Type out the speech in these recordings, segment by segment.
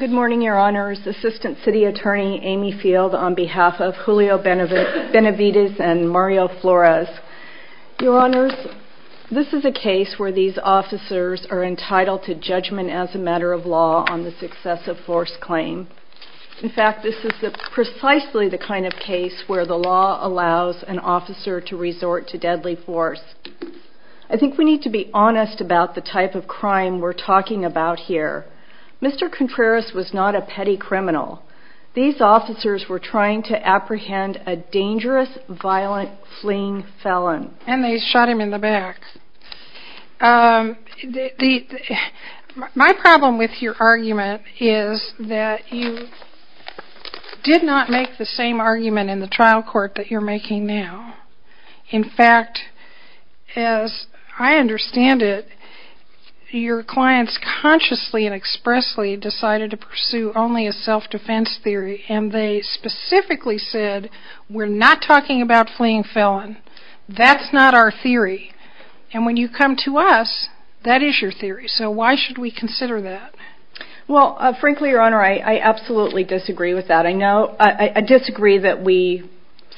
Good morning, your honors. Assistant City Attorney Amy Field on behalf of Julio Benavides and Mario Flores. Your honors, this is a case where these officers are entitled to judgment as a matter of law on the successive force claim. In fact, this is precisely the kind of case where the law allows an officer to resort to deadly force. I think we need to be honest about the type of crime we're talking about here. Mr. Contreras was not a petty criminal. These officers were trying to apprehend a dangerous, violent, fleeing felon. And they shot him in the back. My problem with your argument is that you did not make the same argument in the trial court that you're making now. In fact, as I understand it, your clients consciously and expressly decided to pursue only a self-defense theory. And they specifically said, we're not talking about fleeing felon. That's not our theory. And when you come to us, that is your theory. So why should we consider that? Well, frankly, your honor, I absolutely disagree with that. I disagree that we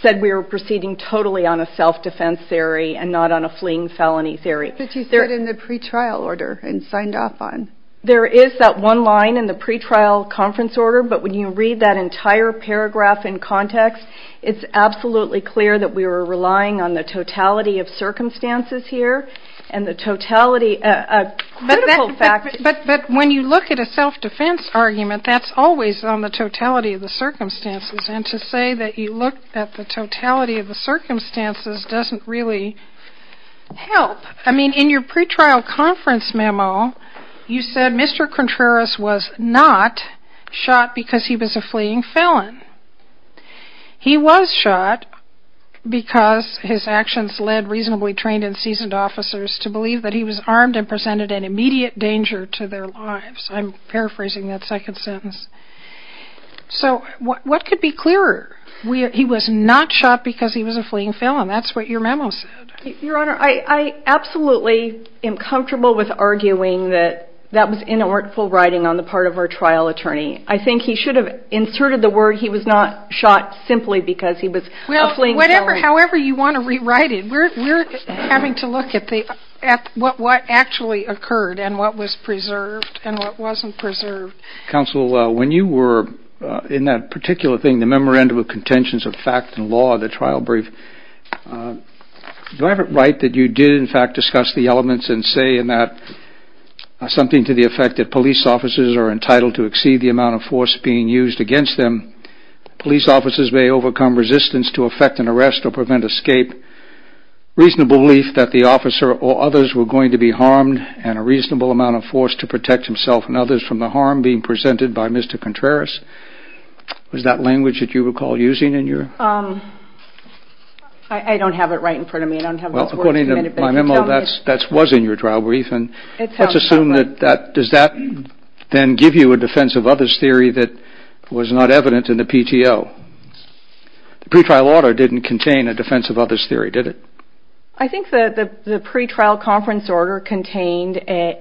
said we were proceeding totally on a self-defense theory and not on a fleeing felony theory. But you said in the pretrial order and signed off on. There is that one line in the pretrial conference order. But when you read that entire paragraph in context, it's absolutely clear that we were relying on the totality of circumstances here and the totality of critical fact. But when you look at a self-defense argument, that's always on the totality of the circumstances. And to say that you look at the totality of the circumstances doesn't really help. I mean, in your pretrial conference memo, you said Mr. Contreras was not shot because he was a fleeing felon. He was shot because his actions led reasonably trained and seasoned officers to believe that he was armed and presented an immediate danger to their lives. I'm paraphrasing that second sentence. So what could be clearer? He was not shot because he was a fleeing felon. That's what your memo said. Your honor, I absolutely am comfortable with arguing that that was in a workful writing on the part of our trial attorney. I think he should have inserted the word he was not shot simply because he was a fleeing felon. However you want to rewrite it, we're having to look at what actually occurred and what was preserved and what wasn't preserved. Counsel, when you were in that particular thing, the memorandum of contentions of fact and law, the trial brief, do I have it right that you did in fact discuss the elements and say in that something to the effect that police officers are entitled to exceed the amount of force being used against them? Police officers may overcome resistance to effect an arrest or prevent escape. Reasonable belief that the officer or others were going to be harmed and a reasonable amount of force to protect himself and others from the harm being presented by Mr. Contreras. Was that language that you recall using in your? I don't have it right in front of me. I don't have those words committed, but you tell me. According to my memo, that was in your trial brief. Let's assume that, does that then give you a defense of others theory that was not evident in the PTO? The pre-trial order didn't contain a defense of others theory, did it? I think that the pre-trial conference order contained a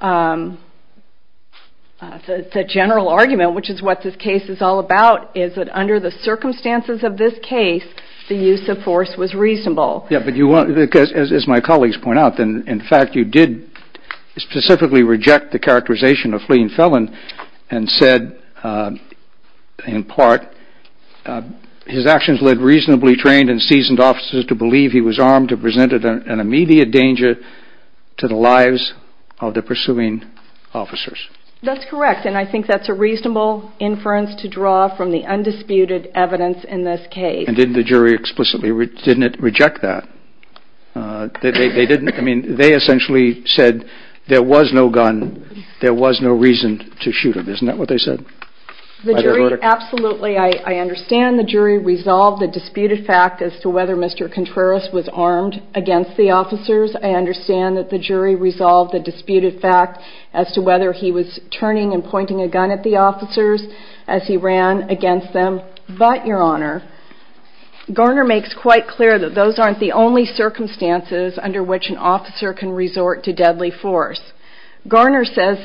general argument, which is what this case is all about, is that under the circumstances of this case, the use of force was reasonable. Yeah, but as my colleagues point out, in fact you did specifically reject the characterization of fleeing felon and said, in part, his actions led reasonably trained and seasoned officers to believe he was armed to present an immediate danger to the lives of the pursuing officers. That's correct, and I think that's a reasonable inference to draw from the undisputed evidence in this case. And didn't the jury explicitly, didn't it reject that? They didn't, I mean, they essentially said there was no gun, there was no reason to shoot him, isn't that what they said? The jury, absolutely, I understand the jury resolved the disputed fact as to whether Mr. Contreras was armed against the officers. I understand that the jury resolved the disputed fact as to whether he was turning and pointing a gun at the officers as he ran against them. But, Your Honor, Garner makes quite clear that those aren't the only circumstances under which an officer can resort to deadly force. Garner says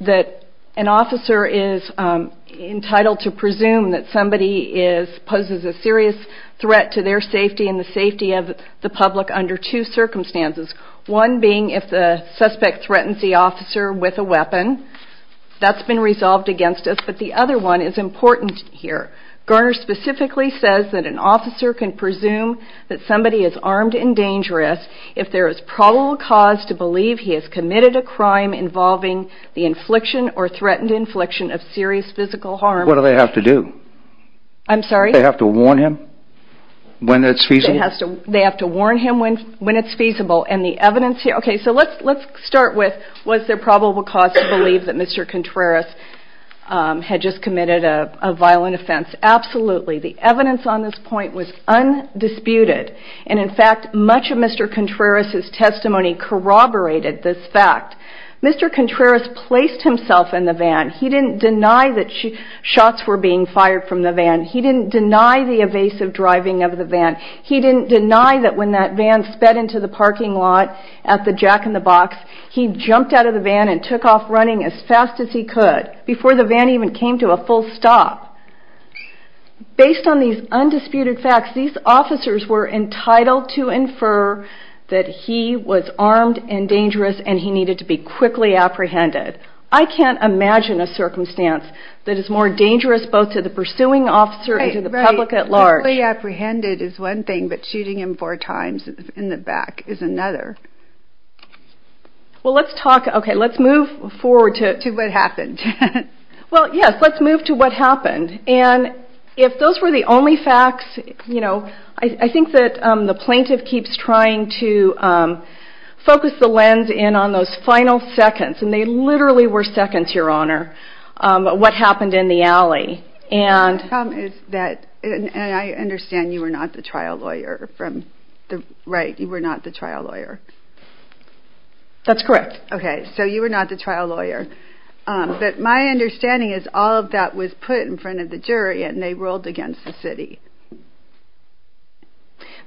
that an officer is entitled to presume that somebody poses a serious threat to their safety and the safety of the public under two circumstances, one being if the suspect threatens the officer with a weapon. That's been resolved against us, but the other one is important here. Garner specifically says that an officer can presume that somebody is armed and dangerous if there is probable cause to believe he has committed a crime involving the infliction or threatened infliction of serious physical harm. What do they have to do? I'm sorry? Do they have to warn him when it's feasible? They have to warn him when it's feasible and the evidence here, okay, so let's start with was there probable cause to believe that Mr. Contreras had just committed a violent offense? Absolutely. The evidence on this point was undisputed and, in fact, much of Mr. Contreras' testimony corroborated this fact. Mr. Contreras placed himself in the van. He didn't deny that shots were being fired from the van. He didn't deny the evasive driving of the van. He didn't deny that when that van sped into the parking lot at the Jack in the Box, he jumped out of the van and took off running as fast as he could before the van even came to a full stop. Based on these undisputed facts, these officers were entitled to infer that he was armed and dangerous and he needed to be quickly apprehended. I can't imagine a circumstance that is more dangerous both to the pursuing officer and to the public at large. Fully apprehended is one thing, but shooting him four times in the back is another. Well, let's talk, okay, let's move forward to what happened. Well, yes, let's move to what happened. And if those were the only facts, you know, I think that the plaintiff keeps trying to focus the lens in on those final seconds, and they literally were seconds, Your Honor, what happened in the alley. The problem is that, and I understand you were not the trial lawyer from the right, you were not the trial lawyer. That's correct. Okay, so you were not the trial lawyer. But my understanding is all of that was put in front of the jury and they ruled against the city.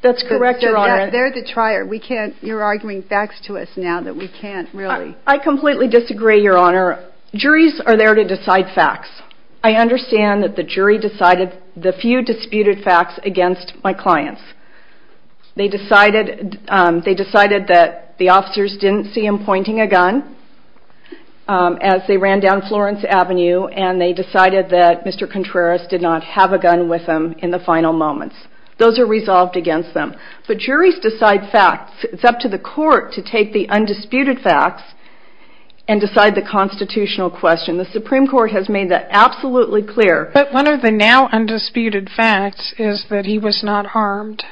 That's correct, Your Honor. They're the trier. You're arguing facts to us now that we can't really. I completely disagree, Your Honor. Juries are there to decide facts. I understand that the jury decided the few disputed facts against my clients. They decided that the officers didn't see him pointing a gun as they ran down Florence Avenue, and they decided that Mr. Contreras did not have a gun with him in the final moments. Those are resolved against them. But juries decide facts. It's up to the court to take the undisputed facts and decide the constitutional question. The Supreme Court has made that absolutely clear. But one of the now undisputed facts is that he was not harmed.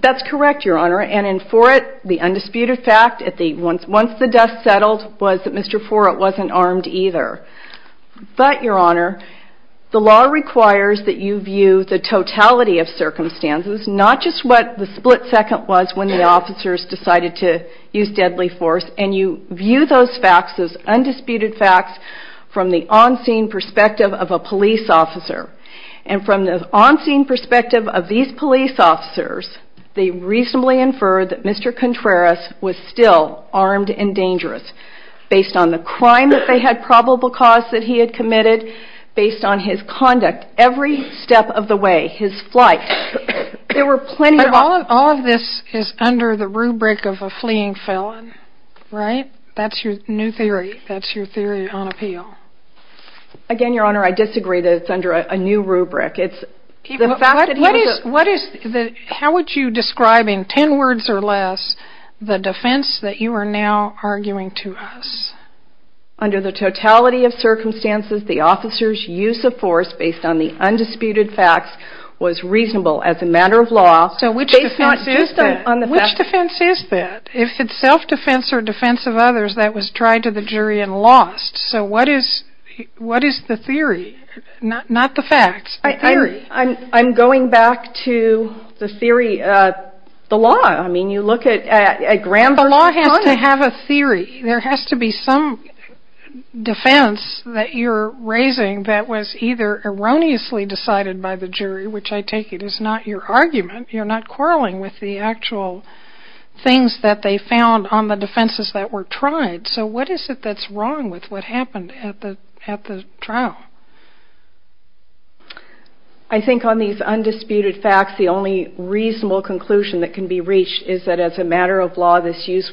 That's correct, Your Honor. And in Forrett, the undisputed fact, once the dust settled, was that Mr. Forrett wasn't armed either. But, Your Honor, the law requires that you view the totality of circumstances, not just what the split second was when the officers decided to use deadly force, and you view those facts as undisputed facts from the on-scene perspective of a police officer. And from the on-scene perspective of these police officers, they reasonably infer that Mr. Contreras was still armed and dangerous, based on the crime that they had probable cause that he had committed, based on his conduct every step of the way, his flight. But all of this is under the rubric of a fleeing felon, right? That's your new theory. That's your theory on appeal. Again, Your Honor, I disagree that it's under a new rubric. How would you describe in ten words or less the defense that you are now arguing to us? Under the totality of circumstances, the officers' use of force based on the undisputed facts was reasonable as a matter of law. So which defense is that? Which defense is that? If it's self-defense or defense of others, that was tried to the jury and lost. So what is the theory? Not the facts. The theory. I'm going back to the theory of the law. I mean, you look at a grand version of it. The law has to have a theory. There has to be some defense that you're raising that was either erroneously decided by the jury, which I take it is not your argument. You're not quarreling with the actual things that they found on the defenses that were tried. So what is it that's wrong with what happened at the trial? I think on these undisputed facts, the only reasonable conclusion that can be reached is that as a matter of law, this use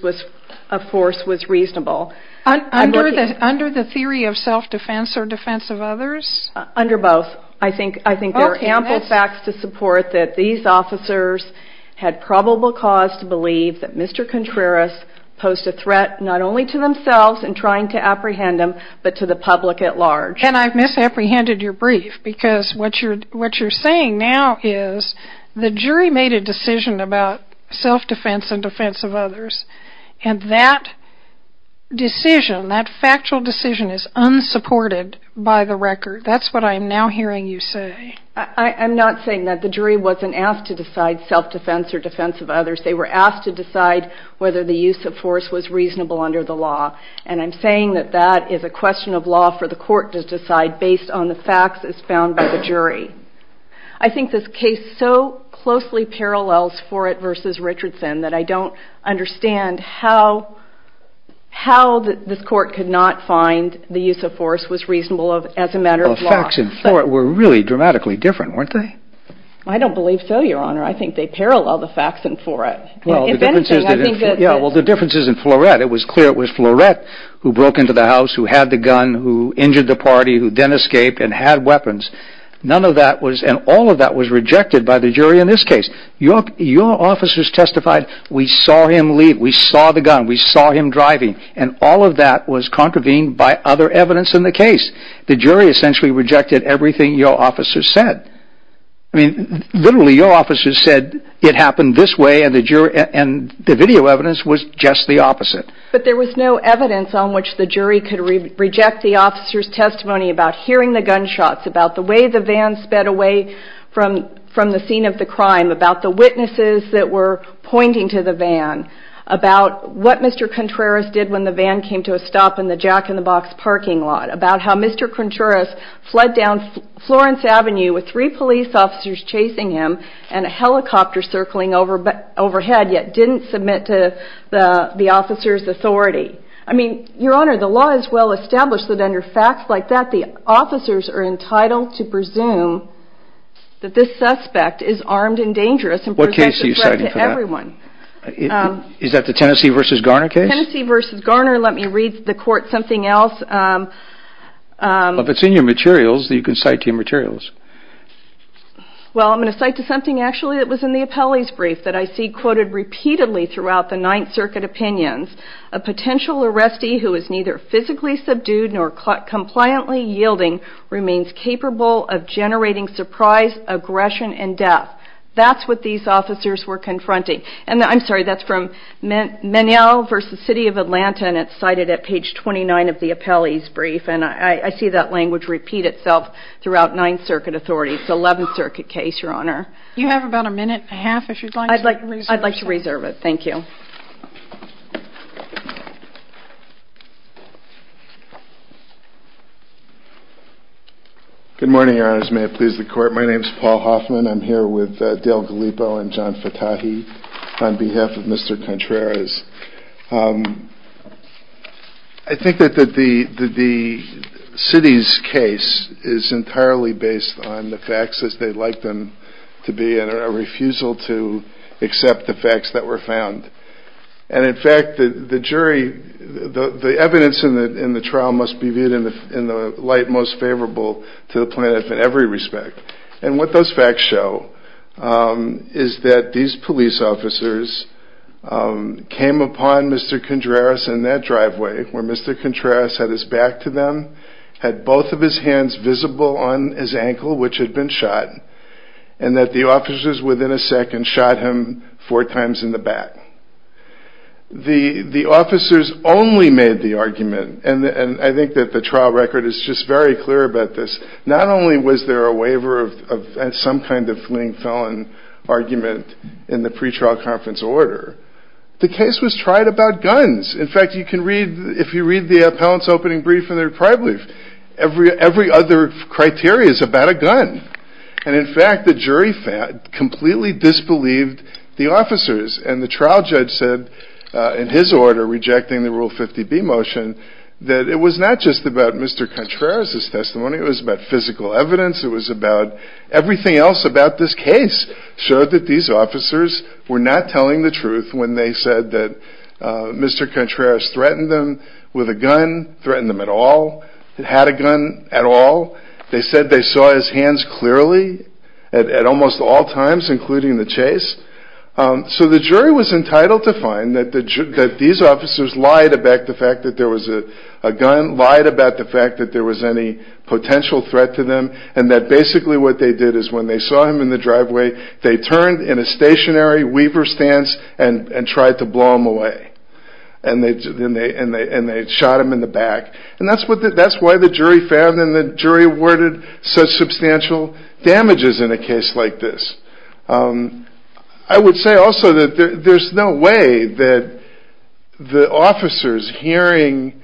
of force was reasonable. Under the theory of self-defense or defense of others? Under both. I think there are ample facts to support that these officers had probable cause to believe that Mr. Contreras posed a threat not only to themselves in trying to apprehend him, but to the public at large. And I've misapprehended your brief because what you're saying now is the jury made a decision about self-defense and defense of others, and that decision, that factual decision is unsupported by the record. That's what I'm now hearing you say. I'm not saying that. The jury wasn't asked to decide self-defense or defense of others. They were asked to decide whether the use of force was reasonable under the law, and I'm saying that that is a question of law for the court to decide based on the facts as found by the jury. I think this case so closely parallels Forett versus Richardson that I don't understand how this court could not find the use of force was reasonable as a matter of law. The facts in Forett were really dramatically different, weren't they? I don't believe so, Your Honor. I think they parallel the facts in Forett. Well, the difference is in Forett. It was clear it was Forett who broke into the house, who had the gun, who injured the party, who then escaped and had weapons. None of that was, and all of that was rejected by the jury in this case. Your officers testified, we saw him leave, we saw the gun, we saw him driving, and all of that was contravened by other evidence in the case. The jury essentially rejected everything your officers said. I mean, literally your officers said it happened this way, and the video evidence was just the opposite. But there was no evidence on which the jury could reject the officers' testimony about hearing the gunshots, about the way the van sped away from the scene of the crime, about the witnesses that were pointing to the van, about what Mr. Contreras did when the van came to a stop in the Jack in the Box parking lot, about how Mr. Contreras fled down Florence Avenue with three police officers chasing him and a helicopter circling overhead, yet didn't submit to the officers' authority. I mean, Your Honor, the law is well established that under facts like that, the officers are entitled to presume that this suspect is armed and dangerous and presents a threat to everyone. What case are you citing for that? Is that the Tennessee v. Garner case? Tennessee v. Garner, let me read the court something else. If it's in your materials, you can cite your materials. Well, I'm going to cite something actually that was in the appellee's brief that I see quoted repeatedly throughout the Ninth Circuit opinions. A potential arrestee who is neither physically subdued nor compliantly yielding remains capable of generating surprise, aggression, and death. That's what these officers were confronting. I'm sorry, that's from Meniel v. City of Atlanta, and it's cited at page 29 of the appellee's brief, and I see that language repeat itself throughout Ninth Circuit authorities. It's the Eleventh Circuit case, Your Honor. You have about a minute and a half, if you'd like to reserve it. I'd like to reserve it. Thank you. My name is Paul Hoffman. I'm here with Dale Galipo and John Fatahi on behalf of Mr. Contreras. I think that the city's case is entirely based on the facts as they'd like them to be and a refusal to accept the facts that were found. And in fact, the jury, the evidence in the trial must be viewed in the light most favorable to the plaintiff in every respect. And what those facts show is that these police officers came upon Mr. Contreras in that driveway where Mr. Contreras had his back to them, had both of his hands visible on his ankle, which had been shot, and that the officers within a second shot him four times in the back. The officers only made the argument, and I think that the trial record is just very clear about this, that not only was there a waiver of some kind of fleeing felon argument in the pretrial conference order, the case was tried about guns. In fact, if you read the appellant's opening brief in their trial brief, every other criteria is about a gun. And in fact, the jury completely disbelieved the officers. And the trial judge said in his order rejecting the Rule 50B motion that it was not just about Mr. Contreras' testimony, it was about physical evidence, it was about everything else about this case showed that these officers were not telling the truth when they said that Mr. Contreras threatened them with a gun, threatened them at all, had a gun at all. They said they saw his hands clearly at almost all times, including the chase. So the jury was entitled to find that these officers lied about the fact that there was a gun, lied about the fact that there was any potential threat to them, and that basically what they did is when they saw him in the driveway, they turned in a stationary weaver stance and tried to blow him away. And they shot him in the back. And that's why the jury found and the jury awarded such substantial damages in a case like this. I would say also that there's no way that the officers hearing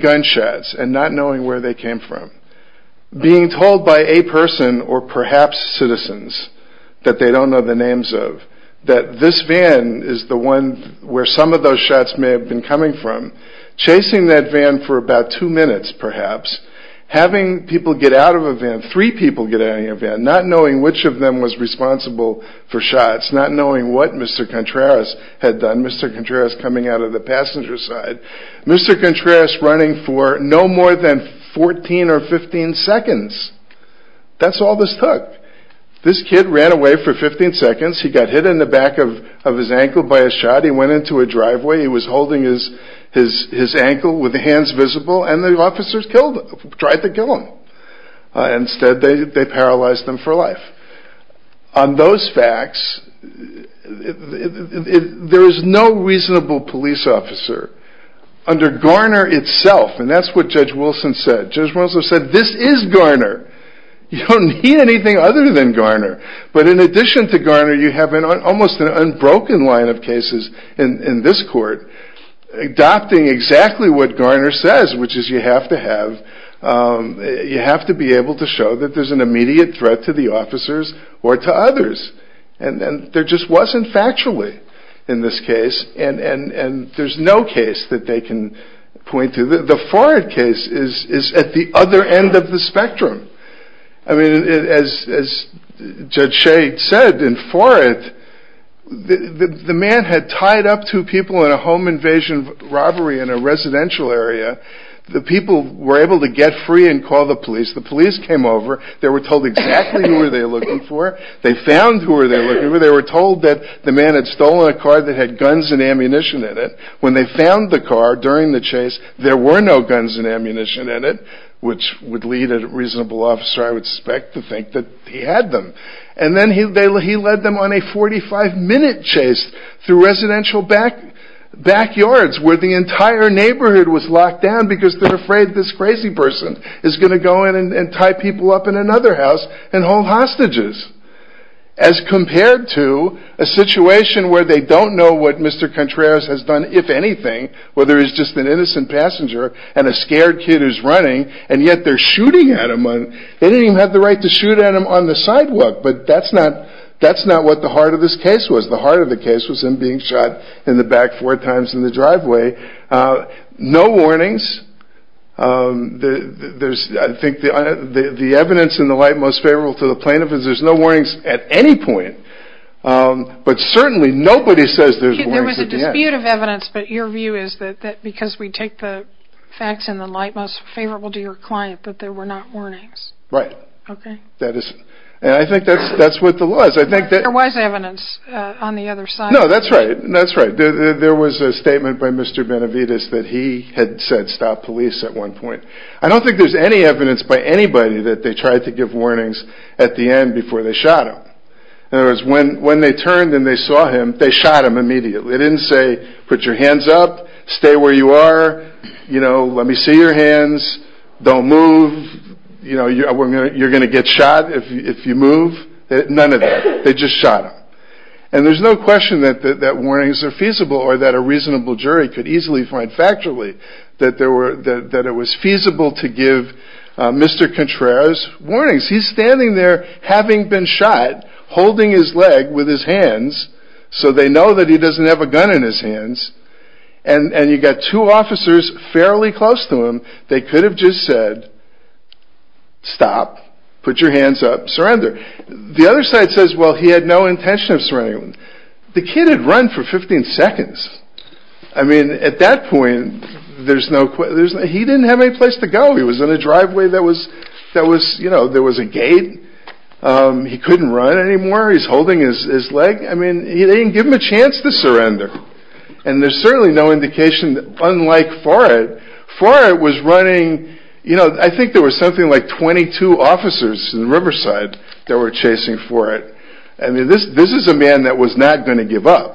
gunshots and not knowing where they came from, being told by a person or perhaps citizens that they don't know the names of, that this van is the one where some of those shots may have been coming from, chasing that van for about two minutes perhaps, having people get out of a van, three people get out of a van, not knowing which of them was responsible for shots, not knowing what Mr. Contreras had done, Mr. Contreras coming out of the passenger side, Mr. Contreras running for no more than 14 or 15 seconds. That's all this took. This kid ran away for 15 seconds, he got hit in the back of his ankle by a shot, he went into a driveway, he was holding his ankle with his hands visible, and the officers tried to kill him. Instead they paralyzed him for life. On those facts, there is no reasonable police officer. Under Garner itself, and that's what Judge Wilson said, Judge Wilson said, this is Garner, you don't need anything other than Garner. But in addition to Garner, you have almost an unbroken line of cases in this court, adopting exactly what Garner says, which is you have to have, you have to be able to show that there's an immediate threat to the officers or to others. And there just wasn't factually in this case, and there's no case that they can point to. The Ford case is at the other end of the spectrum. I mean, as Judge Shea said in Ford, the man had tied up two people in a home invasion robbery in a residential area. The people were able to get free and call the police. The police came over. They were told exactly who they were looking for. They found who they were looking for. They were told that the man had stolen a car that had guns and ammunition in it. When they found the car during the chase, there were no guns and ammunition in it, which would lead a reasonable officer, I would suspect, to think that he had them. And then he led them on a 45-minute chase through residential backyards where the entire neighborhood was locked down because they're afraid this crazy person is going to go in and tie people up in another house and hold hostages. As compared to a situation where they don't know what Mr. Contreras has done, if anything, where there is just an innocent passenger and a scared kid who's running, and yet they're shooting at him. They didn't even have the right to shoot at him on the sidewalk, but that's not what the heart of this case was. The heart of the case was him being shot in the back four times in the driveway. No warnings. I think the evidence in the light most favorable to the plaintiff is there's no warnings at any point, but certainly nobody says there's warnings again. There was a dispute of evidence, but your view is that because we take the facts in the light most favorable to your client that there were not warnings. Right. And I think that's what the law is. There was evidence on the other side. No, that's right. There was a statement by Mr. Benavides that he had said stop police at one point. I don't think there's any evidence by anybody that they tried to give warnings at the end before they shot him. In other words, when they turned and they saw him, they shot him immediately. They didn't say put your hands up, stay where you are, let me see your hands, don't move. You're going to get shot if you move. None of that. They just shot him. And there's no question that warnings are feasible or that a reasonable jury could easily find factually that it was feasible to give Mr. Contreras warnings. He's standing there having been shot, holding his leg with his hands, so they know that he doesn't have a gun in his hands, and you've got two officers fairly close to him. They could have just said stop, put your hands up, surrender. The other side says, well, he had no intention of surrendering. The kid had run for 15 seconds. I mean, at that point, he didn't have any place to go. He was in a driveway that was, you know, there was a gate. He couldn't run anymore. He's holding his leg. I mean, they didn't give him a chance to surrender. And there's certainly no indication, unlike Forret. Forret was running, you know, I think there was something like 22 officers in Riverside that were chasing Forret. I mean, this is a man that was not going to give up.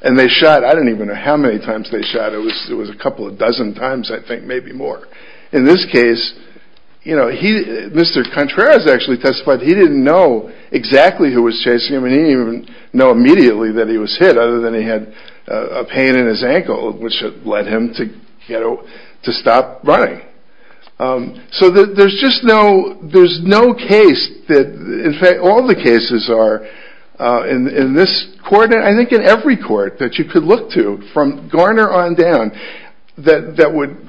And they shot, I don't even know how many times they shot. It was a couple of dozen times, I think, maybe more. In this case, you know, he, Mr. Contreras actually testified, he didn't know exactly who was chasing him, and he didn't even know immediately that he was hit, other than he had a pain in his ankle, which led him to, you know, to stop running. So there's just no, there's no case that, in fact, all the cases are in this court, and I think in every court that you could look to, from Garner on down, that would,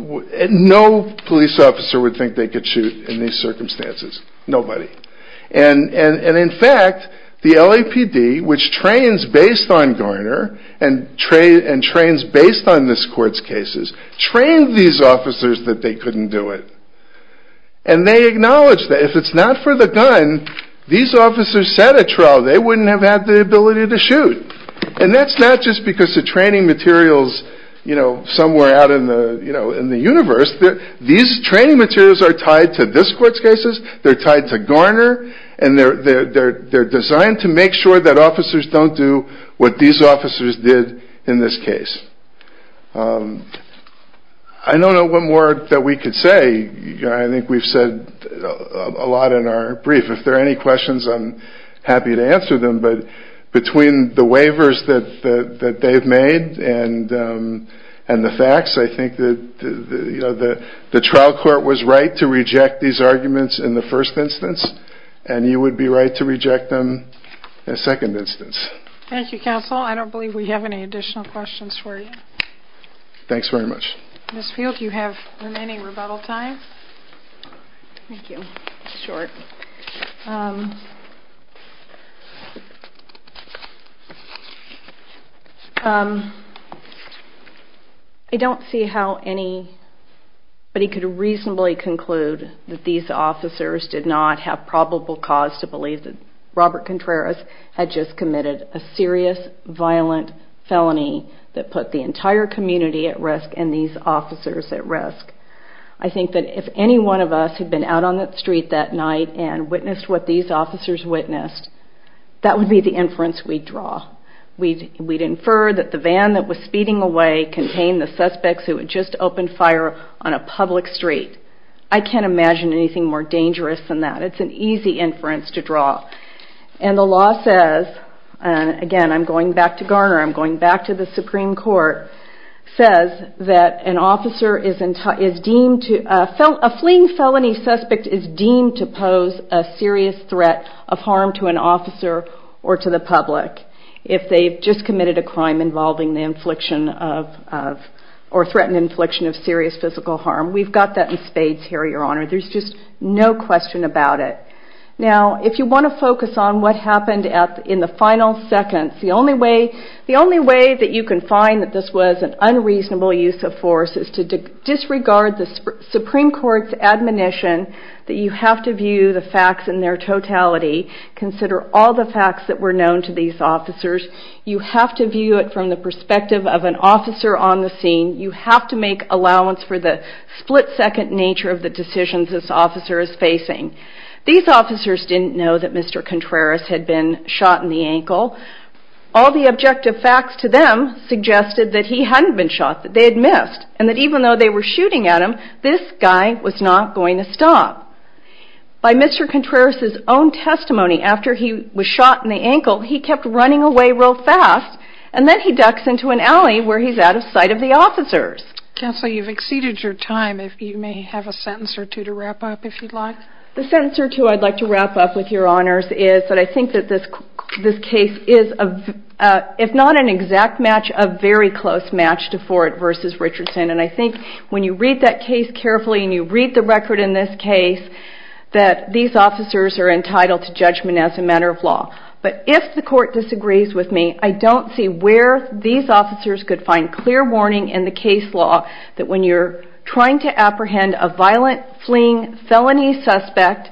no police officer would think they could shoot in these circumstances. Nobody. And in fact, the LAPD, which trains based on Garner, and trains based on this court's cases, trained these officers that they couldn't do it. And they acknowledged that if it's not for the gun, these officers set a trial, they wouldn't have had the ability to shoot. And that's not just because the training materials, you know, somewhere out in the universe, these training materials are tied to this court's cases, they're tied to Garner, and they're designed to make sure that officers don't do what these officers did in this case. I don't know one more that we could say. I think we've said a lot in our brief. If there are any questions, I'm happy to answer them, but between the waivers that they've made and the facts, I think that the trial court was right to reject these arguments in the first instance, and you would be right to reject them in the second instance. Thank you, counsel. I don't believe we have any additional questions for you. Thanks very much. Ms. Field, you have remaining rebuttal time. Thank you. It's short. I don't see how anybody could reasonably conclude that these officers did not have probable cause to believe that Robert Contreras had just committed a serious, violent felony that put the entire community at risk and these officers at risk. I think that if any one of us had been out on the street that night and witnessed what these officers witnessed, that would be the inference we'd draw. We'd infer that the van that was speeding away contained the suspects who had just opened fire on a public street. I can't imagine anything more dangerous than that. It's an easy inference to draw. And the law says, and again I'm going back to Garner, I'm going back to the Supreme Court, says that a fleeing felony suspect is deemed to pose a serious threat of harm to an officer or to the public if they've just committed a crime involving the infliction of or threatened infliction of serious physical harm. We've got that in spades here, Your Honor. There's just no question about it. Now, if you want to focus on what happened in the final seconds, the only way that you can find that this was an unreasonable use of force is to disregard the Supreme Court's admonition that you have to view the facts in their totality, consider all the facts that were known to these officers. You have to view it from the perspective of an officer on the scene. You have to make allowance for the split-second nature of the decisions this officer is facing. These officers didn't know that Mr. Contreras had been shot in the ankle. All the objective facts to them suggested that he hadn't been shot, that they had missed, and that even though they were shooting at him, this guy was not going to stop. By Mr. Contreras' own testimony, after he was shot in the ankle, he kept running away real fast, and then he ducks into an alley where he's out of sight of the officers. Counsel, you've exceeded your time. You may have a sentence or two to wrap up if you'd like. The sentence or two I'd like to wrap up with, Your Honors, is that I think that this case is, if not an exact match, a very close match to Ford v. Richardson. And I think when you read that case carefully and you read the record in this case, that these officers are entitled to judgment as a matter of law. But if the court disagrees with me, I don't see where these officers could find clear warning in the case law that when you're trying to apprehend a violent fleeing felony suspect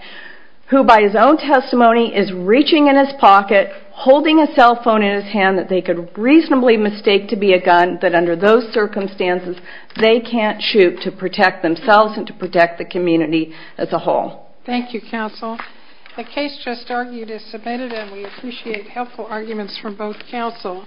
who by his own testimony is reaching in his pocket, holding a cell phone in his hand, that they could reasonably mistake to be a gun, that under those circumstances they can't shoot to protect themselves and to protect the community as a whole. Thank you, Counsel. The case just argued is submitted, and we appreciate helpful arguments from both counsel.